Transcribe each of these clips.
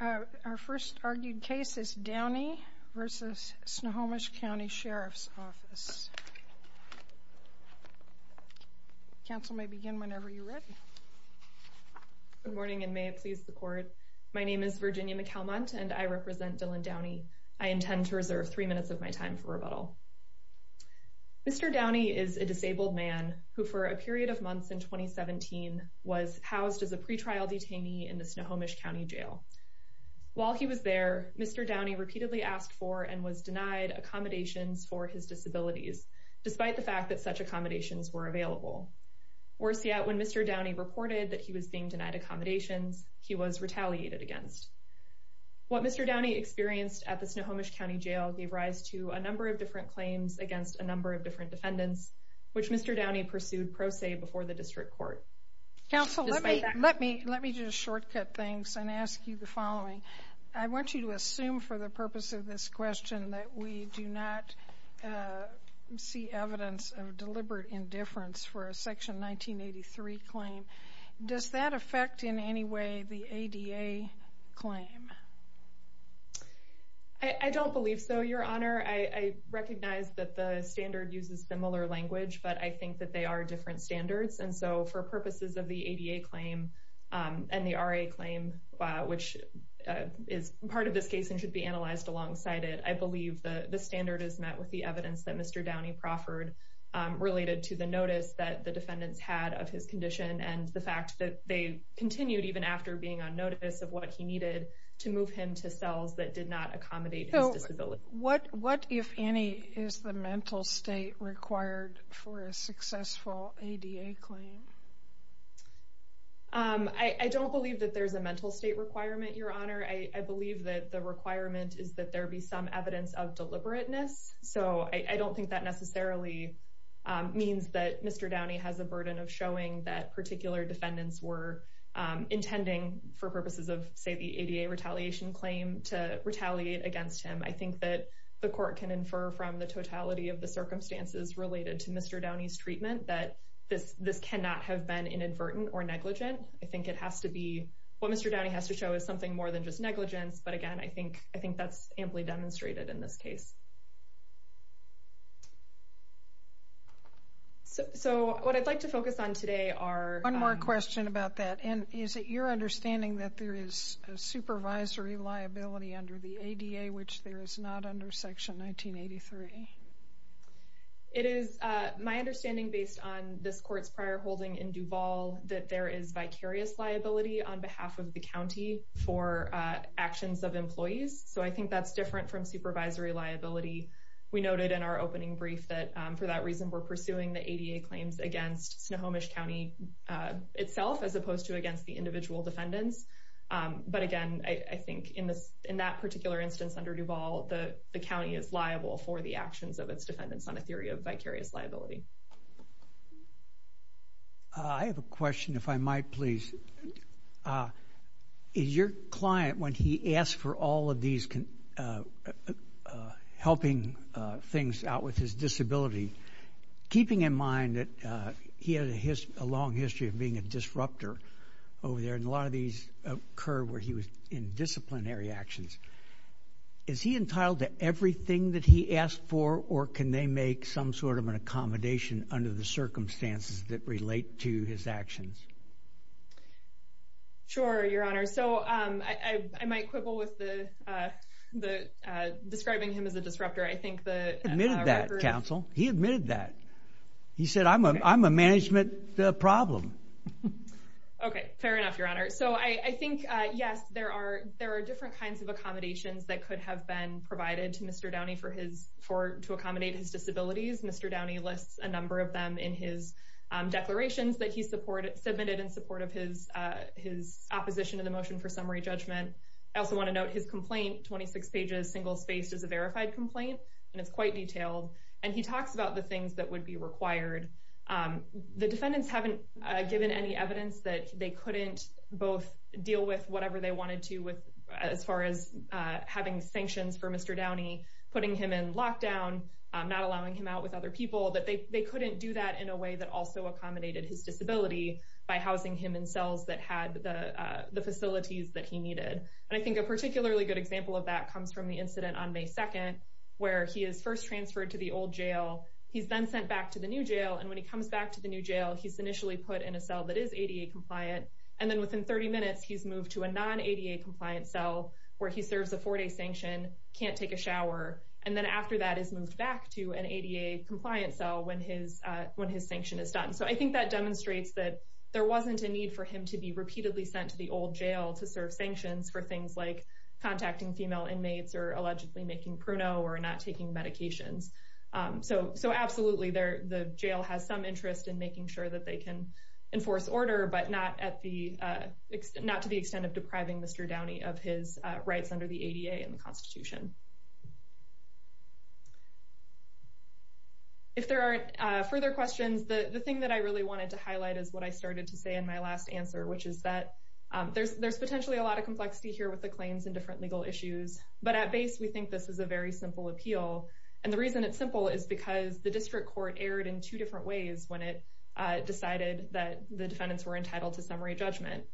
Our first argued case is Downey versus Snohomish County Sheriff's Office. Council may begin whenever you're ready. Good morning and may it please the court. My name is Virginia McAlmont and I represent Dylan Downey. I intend to reserve three minutes of my time for rebuttal. Mr. Downey is a disabled man who, for a period of months in 2017, was housed as a pretrial detainee in the Snohomish County Jail. While he was there, Mr. Downey repeatedly asked for and was denied accommodations for his disabilities, despite the fact that such accommodations were available. Worse yet, when Mr. Downey reported that he was being denied accommodations, he was retaliated against. What Mr. Downey experienced at the Snohomish County Jail gave rise to a number of different claims against a number of different defendants, which Mr. Downey pursued pro se before the district court. Council, let me just shortcut things and ask you the following. I want you to assume for the purpose of this question that we do not see evidence of deliberate indifference for a Section 1983 claim. Does that affect in any way the ADA claim? I don't believe so, Your Honor. I recognize that the standard uses similar language, but I think that they are different standards. And so for purposes of the ADA claim and the RA claim, which is part of this case and should be analyzed alongside it, I believe the standard is met with the evidence that Mr. Downey proffered related to the notice that the defendants had of his condition. And the fact that they continued even after being on notice of what he needed to move him to cells that did not accommodate his disability. What if any is the mental state required for a successful ADA claim? I don't believe that there's a mental state requirement, Your Honor. I believe that the requirement is that there be some evidence of deliberateness. So I don't think that necessarily means that Mr. Downey has a burden of showing that particular defendants were intending for purposes of, say, the ADA retaliation claim to retaliate against him. I think that the court can infer from the totality of the circumstances related to Mr. Downey's treatment that this cannot have been inadvertent or negligent. I think it has to be what Mr. Downey has to show is something more than just negligence. But again, I think that's amply demonstrated in this case. So what I'd like to focus on today are... One more question about that. And is it your understanding that there is a supervisory liability under the ADA, which there is not under Section 1983? It is my understanding based on this court's prior holding in Duval that there is vicarious liability on behalf of the county for actions of employees. So I think that's different from supervisory liability. We noted in our opening brief that for that reason, we're pursuing the ADA claims against Snohomish County itself as opposed to against the individual defendants. But again, I think in that particular instance under Duval, the county is liable for the actions of its defendants on a theory of vicarious liability. I have a question, if I might, please. Is your client, when he asks for all of these helping things out with his disability, keeping in mind that he had a long history of being a disruptor over there, and a lot of these occur where he was in disciplinary actions. Is he entitled to everything that he asks for, or can they make some sort of an accommodation under the circumstances that relate to his actions? Sure, Your Honor. So I might quibble with describing him as a disruptor. He admitted that, counsel. He admitted that. He said, I'm a management problem. Okay, fair enough, Your Honor. So I think, yes, there are different kinds of accommodations that could have been provided to Mr. Downey to accommodate his disabilities. Mr. Downey lists a number of them in his declarations that he submitted in support of his opposition to the motion for summary judgment. I also want to note his complaint, 26 pages, single-spaced, is a verified complaint, and it's quite detailed. And he talks about the things that would be required. The defendants haven't given any evidence that they couldn't both deal with whatever they wanted to as far as having sanctions for Mr. Downey, putting him in lockdown, not allowing him out with other people, that they couldn't do that in a way that also accommodated his disability by housing him in cells that had the facilities that he needed. And I think a particularly good example of that comes from the incident on May 2nd, where he is first transferred to the old jail. He's then sent back to the new jail. And when he comes back to the new jail, he's initially put in a cell that is ADA-compliant. And then within 30 minutes, he's moved to a non-ADA-compliant cell where he serves a four-day sanction, can't take a shower, and then after that is moved back to an ADA-compliant cell when his sanction is done. So I think that demonstrates that there wasn't a need for him to be repeatedly sent to the old jail to serve sanctions for things like contacting female inmates or allegedly making pruno or not taking medications. So absolutely, the jail has some interest in making sure that they can enforce order, but not to the extent of depriving Mr. Downey of his rights under the ADA and the Constitution. If there aren't further questions, the thing that I really wanted to highlight is what I started to say in my last answer, which is that there's potentially a lot of complexity here with the claims and different legal issues. But at base, we think this is a very simple appeal. And the reason it's simple is because the district court erred in two different ways when it decided that the defendants were entitled to summary judgment.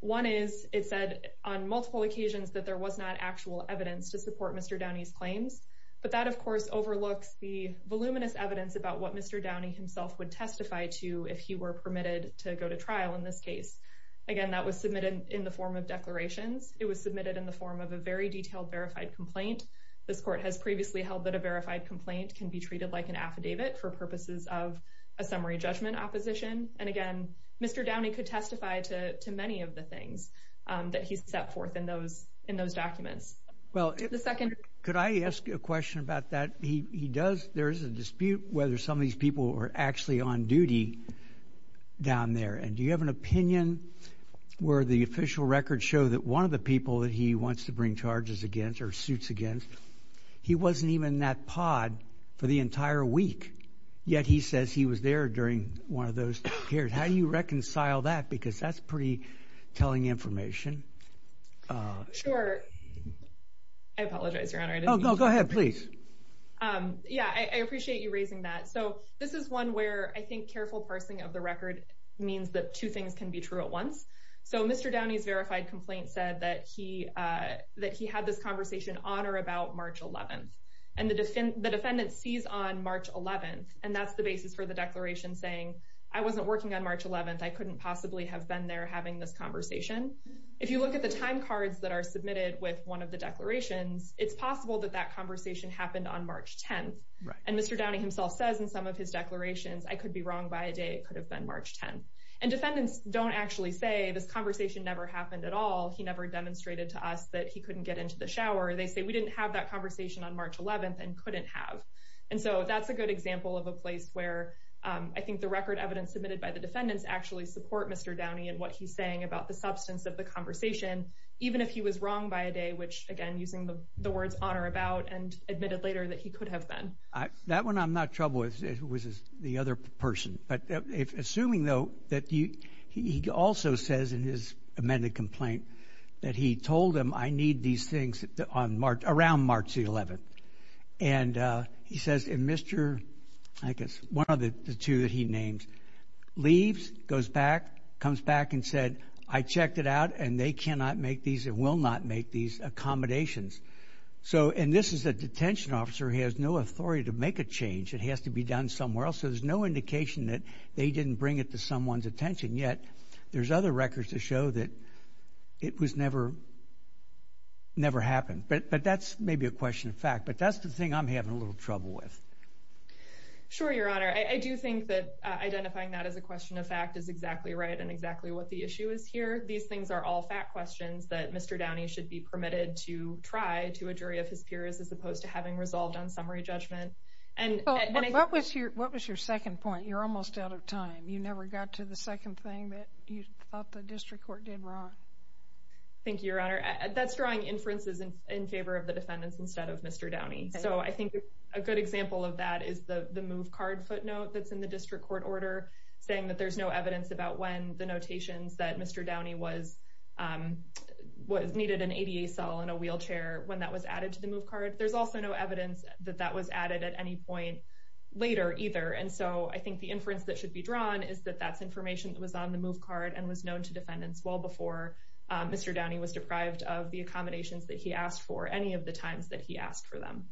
One is it said on multiple occasions that there was not actual evidence to support Mr. Downey's claims. But that, of course, overlooks the voluminous evidence about what Mr. Downey himself would testify to if he were permitted to go to trial in this case. Again, that was submitted in the form of declarations. It was submitted in the form of a very detailed verified complaint. This court has previously held that a verified complaint can be treated like an affidavit for purposes of a summary judgment opposition. And again, Mr. Downey could testify to many of the things that he set forth in those documents. Well, could I ask you a question about that? There is a dispute whether some of these people are actually on duty down there. And do you have an opinion where the official records show that one of the people that he wants to bring charges against or suits against, he wasn't even in that pod for the entire week. Yet he says he was there during one of those hearings. How do you reconcile that? Because that's pretty telling information. Sure. I apologize, Your Honor. Oh, go ahead, please. Yeah, I appreciate you raising that. So this is one where I think careful parsing of the record means that two things can be true at once. So Mr. Downey's verified complaint said that he had this conversation on or about March 11th. And the defendant sees on March 11th, and that's the basis for the declaration saying, I wasn't working on March 11th. I couldn't possibly have been there having this conversation. If you look at the time cards that are submitted with one of the declarations, it's possible that that conversation happened on March 10th. And Mr. Downey himself says in some of his declarations, I could be wrong by a day. It could have been March 10th. And defendants don't actually say this conversation never happened at all. He never demonstrated to us that he couldn't get into the shower. They say we didn't have that conversation on March 11th and couldn't have. And so that's a good example of a place where I think the record evidence submitted by the defendants actually support Mr. Downey and what he's saying about the substance of the conversation, even if he was wrong by a day, which, again, using the words on or about and admitted later that he could have been. That one I'm not in trouble with. It was the other person. But assuming, though, that he also says in his amended complaint that he told him, I need these things around March 11th. And he says, and Mr. I guess one of the two that he names leaves, goes back, comes back and said, I checked it out, and they cannot make these and will not make these accommodations. So and this is a detention officer who has no authority to make a change. It has to be done somewhere else. There's no indication that they didn't bring it to someone's attention. Yet there's other records to show that it was never happened. But that's maybe a question of fact. But that's the thing I'm having a little trouble with. Sure, Your Honor. I do think that identifying that as a question of fact is exactly right and exactly what the issue is here. These things are all fact questions that Mr. Downey should be permitted to try to a jury of his peers as opposed to having resolved on summary judgment. And what was your what was your second point? You're almost out of time. You never got to the second thing that you thought the district court did wrong. Thank you, Your Honor. That's drawing inferences in favor of the defendants instead of Mr. Downey. So I think a good example of that is the move card footnote that's in the district court order saying that there's no evidence about when the notations that Mr. Downey was needed an ADA cell in a wheelchair when that was added to the move card. There's also no evidence that that was added at any point later either. And so I think the inference that should be drawn is that that's information that was on the move card and was known to defendants well before Mr. Downey was deprived of the accommodations that he asked for any of the times that he asked for them.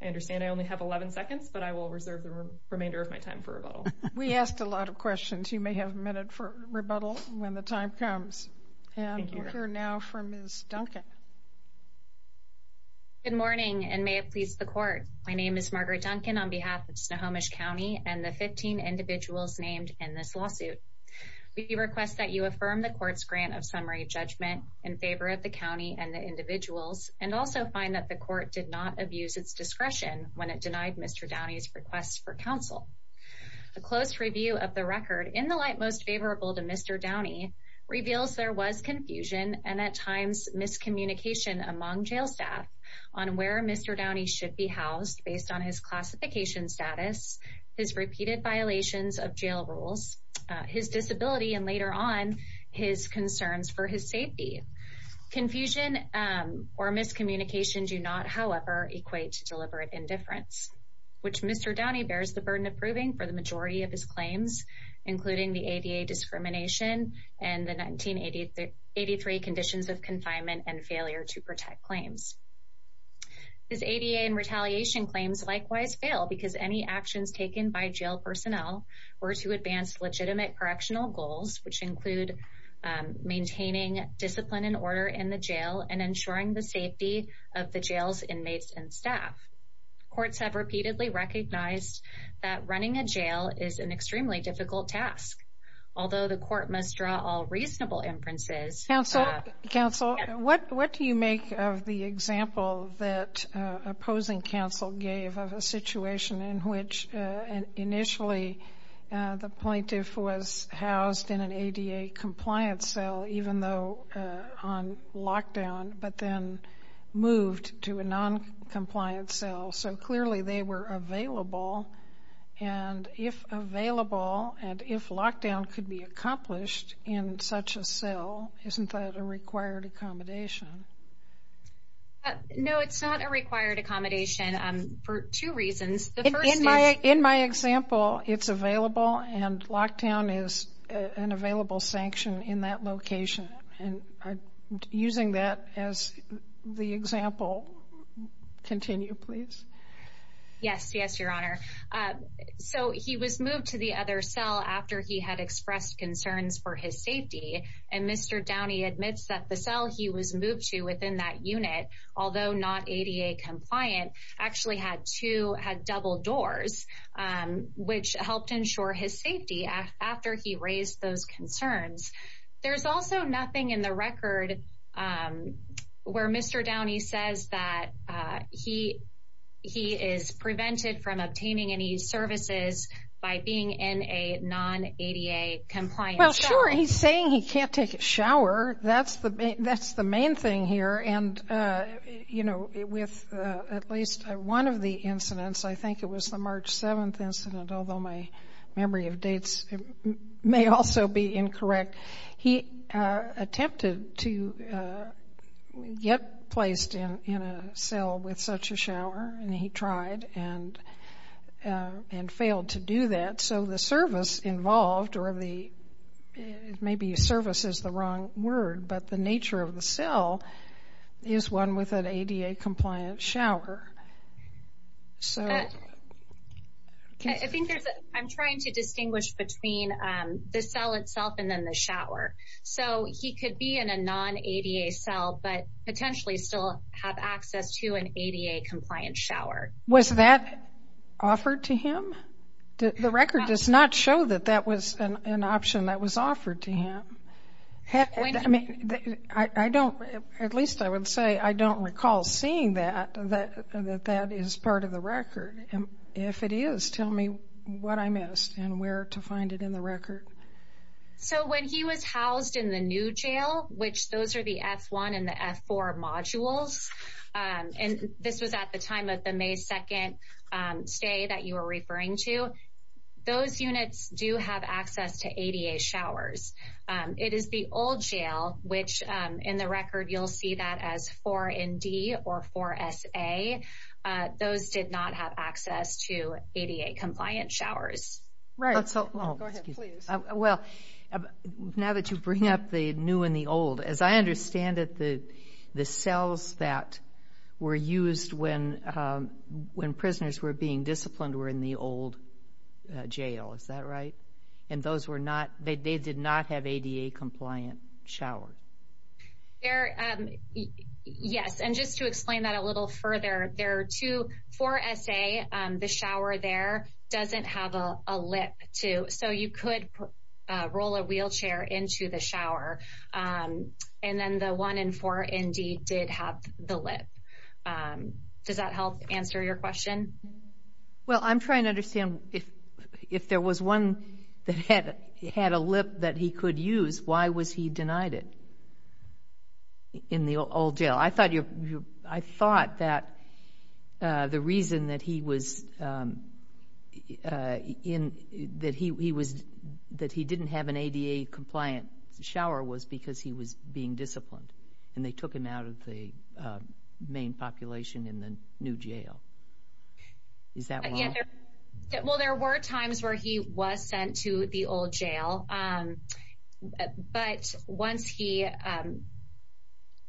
I understand I only have 11 seconds, but I will reserve the remainder of my time for rebuttal. We asked a lot of questions. You may have a minute for rebuttal when the time comes. And you're now for Ms. Duncan. Good morning and may it please the court. My name is Margaret Duncan on behalf of Snohomish County and the 15 individuals named in this lawsuit. We request that you affirm the court's grant of summary judgment in favor of the county and the individuals and also find that the court did not abuse its discretion when it denied Mr. Downey's requests for counsel. A close review of the record in the light most favorable to Mr. Downey reveals there was confusion and at times miscommunication among jail staff on where Mr. Downey should be housed based on his classification status, his repeated violations of jail rules, his disability, and later on his concerns for his safety. Confusion or miscommunication do not, however, equate to deliberate indifference, which Mr. Downey bears the burden of proving for the majority of his claims, including the ADA discrimination and the 1983 conditions of confinement and failure to protect claims. His ADA and retaliation claims likewise fail because any actions taken by jail personnel were to advance legitimate correctional goals, which include maintaining discipline and order in the jail and ensuring the safety of the jail's inmates and staff. Courts have repeatedly recognized that running a jail is an extremely difficult task. Although the court must draw all reasonable inferences. Counsel, what do you make of the example that opposing counsel gave of a situation in which initially the plaintiff was housed in an ADA compliance cell, even though on lockdown, but then moved to a noncompliant cell. So clearly they were available. And if available and if lockdown could be accomplished in such a cell, isn't that a required accommodation? No, it's not a required accommodation for two reasons. In my example, it's available and lockdown is an available sanction in that location. And using that as the example. Continue, please. Yes, yes, Your Honor. So he was moved to the other cell after he had expressed concerns for his safety. And Mr. Downey admits that the cell he was moved to within that unit, although not ADA compliant, actually had two had double doors, which helped ensure his safety after he raised those concerns. There's also nothing in the record where Mr. Downey says that he he is prevented from obtaining any services by being in a non ADA compliant. Well, sure. He's saying he can't take a shower. That's the that's the main thing here. And, you know, with at least one of the incidents, I think it was the March 7th incident, although my memory of dates may also be incorrect. He attempted to get placed in a cell with such a shower and he tried and and failed to do that. So the service involved or the maybe service is the wrong word, but the nature of the cell is one with an ADA compliant shower. I think I'm trying to distinguish between the cell itself and then the shower. So he could be in a non ADA cell, but potentially still have access to an ADA compliant shower. Was that offered to him? The record does not show that that was an option that was offered to him. I mean, I don't at least I would say I don't recall seeing that, that that is part of the record. And if it is, tell me what I missed and where to find it in the record. So when he was housed in the new jail, which those are the F1 and the F4 modules. And this was at the time of the May 2nd stay that you were referring to. Those units do have access to ADA showers. It is the old jail, which in the record, you'll see that as four in D or four S.A. Those did not have access to ADA compliant showers. Well, now that you bring up the new and the old, as I understand it, the cells that were used when when prisoners were being disciplined were in the old jail. Is that right? And those were not they did not have ADA compliant showers. Yes. And just to explain that a little further, there are two four S.A. The shower there doesn't have a lip to so you could roll a wheelchair into the shower. And then the one in four indeed did have the lip. Does that help answer your question? Well, I'm trying to understand if if there was one that had had a lip that he could use, why was he denied it in the old jail? Well, I thought you I thought that the reason that he was in that he was that he didn't have an ADA compliant shower was because he was being disciplined and they took him out of the main population in the new jail. Is that right? Well, there were times where he was sent to the old jail. But once he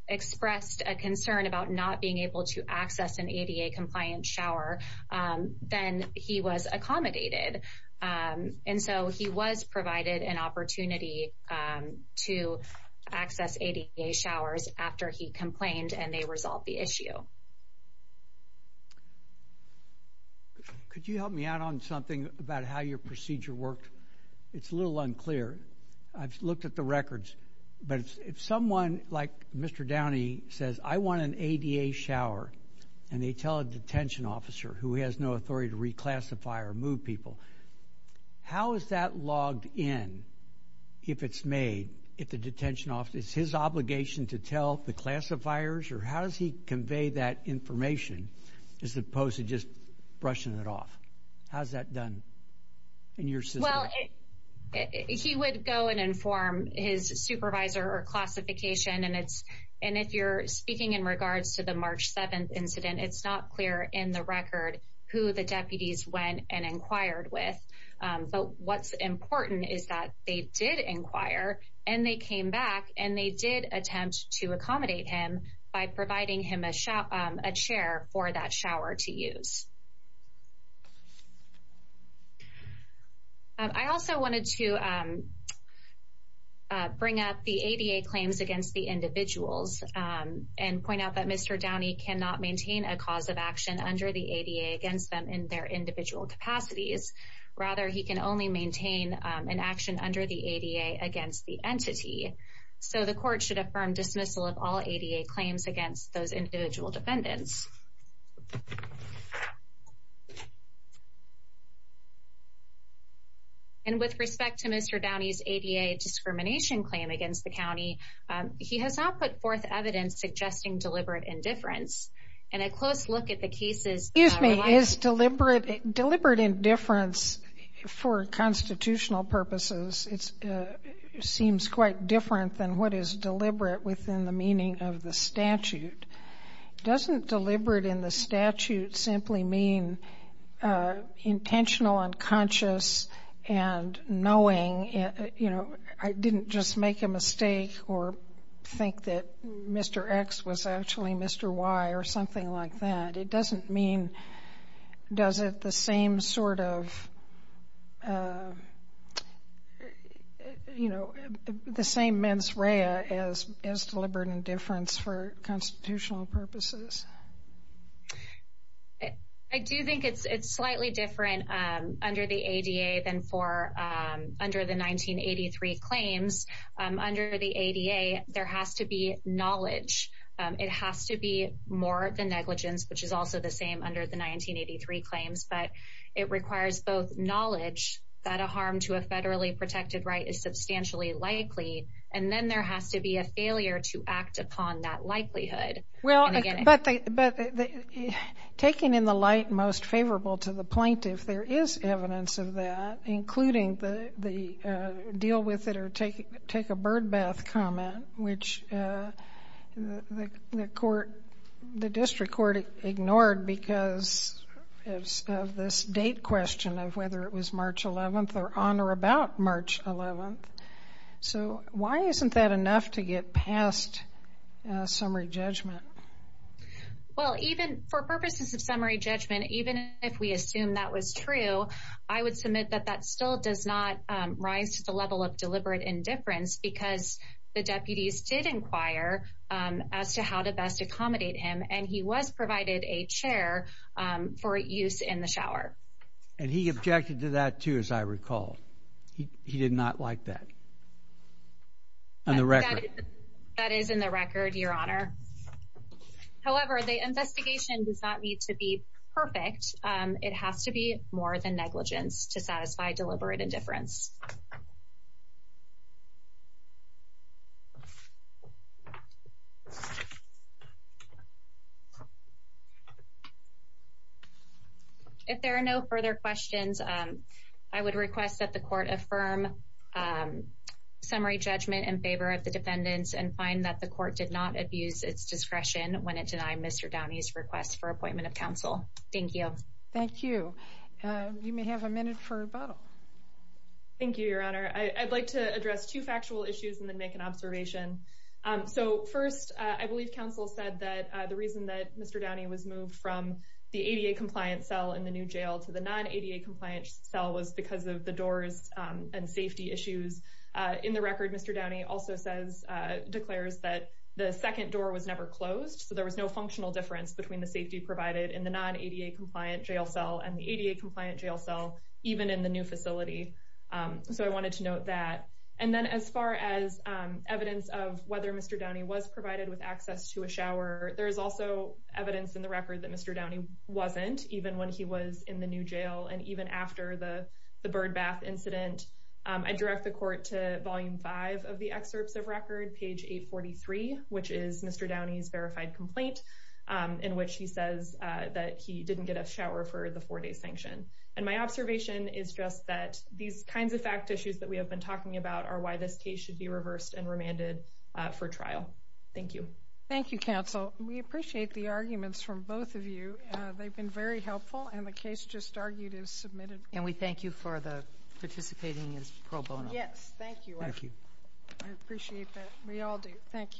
expressed a concern about not being able to access an ADA compliant shower, then he was accommodated. And so he was provided an opportunity to access ADA showers after he complained and they resolved the issue. Could you help me out on something about how your procedure worked? It's a little unclear. I've looked at the records. But if someone like Mr. Downey says, I want an ADA shower, and they tell a detention officer who has no authority to reclassify or move people, how is that logged in if it's made if the detention office is his obligation to tell the classifiers? Or how does he convey that information as opposed to just brushing it off? How is that done in your system? Well, he would go and inform his supervisor or classification. And if you're speaking in regards to the March 7th incident, it's not clear in the record who the deputies went and inquired with. But what's important is that they did inquire and they came back and they did attempt to accommodate him by providing him a chair for that shower to use. I also wanted to bring up the ADA claims against the individuals and point out that Mr. Downey cannot maintain a cause of action under the ADA against them in their individual capacities. Rather, he can only maintain an action under the ADA against the entity. So the court should affirm dismissal of all ADA claims against those individual defendants. And with respect to Mr. Downey's ADA discrimination claim against the county, he has not put forth evidence suggesting deliberate indifference. And a close look at the cases... Excuse me, is deliberate indifference for constitutional purposes, it seems quite different than what is deliberate within the meaning of the statute. Doesn't deliberate in the statute simply mean intentional, unconscious, and knowing? You know, I didn't just make a mistake or think that Mr. X was actually Mr. Y or something like that. It doesn't mean, does it the same sort of, you know, the same mens rea as deliberate indifference for constitutional purposes? I do think it's slightly different under the ADA than for under the 1983 claims. Under the ADA, there has to be knowledge. It has to be more than negligence, which is also the same under the 1983 claims. But it requires both knowledge that a harm to a federally protected right is substantially likely, and then there has to be a failure to act upon that likelihood. Well, but taking in the light most favorable to the plaintiff, there is evidence of that, including the deal with it or take a birdbath comment, which the court, the district court ignored because of this date question of whether it was March 11th or on or about March 11th. So why isn't that enough to get past summary judgment? Well, even for purposes of summary judgment, even if we assume that was true, I would submit that that still does not rise to the level of deliberate indifference because the deputies did inquire as to how to best accommodate him, and he was provided a chair for use in the shower. And he objected to that, too, as I recall. He did not like that. On the record, that is in the record, Your Honor. However, the investigation does not need to be perfect. It has to be more than negligence to satisfy deliberate indifference. If there are no further questions, I would request that the court affirm summary judgment in favor of the defendants and find that the court did not abuse its discretion when it denied Mr. Downey's request for appointment of counsel. Thank you. You may have a minute for rebuttal. Thank you, Your Honor. I'd like to address two factual issues and then make an observation. So first, I believe counsel said that the reason that Mr. Downey was moved from the ADA compliant cell in the new jail to the non-ADA compliant cell was because of the doors and safety issues. In the record, Mr. Downey also declares that the second door was never closed, so there was no functional difference between the safety provided in the non-ADA compliant jail cell and the ADA compliant jail cell, even in the new facility. So I wanted to note that. And then as far as evidence of whether Mr. Downey was provided with access to a shower, there is also evidence in the record that Mr. Downey wasn't, even when he was in the new jail and even after the bird bath incident. I direct the court to Volume 5 of the excerpts of record, page 843, which is Mr. Downey's verified complaint, in which he says that he didn't get a shower for the four-day sanction. And my observation is just that these kinds of fact issues that we have been talking about are why this case should be reversed and remanded for trial. Thank you. Thank you, counsel. We appreciate the arguments from both of you. They've been very helpful, and the case just argued is submitted. And we thank you for participating as pro bono. Yes, thank you. I appreciate that. We all do. Thank you.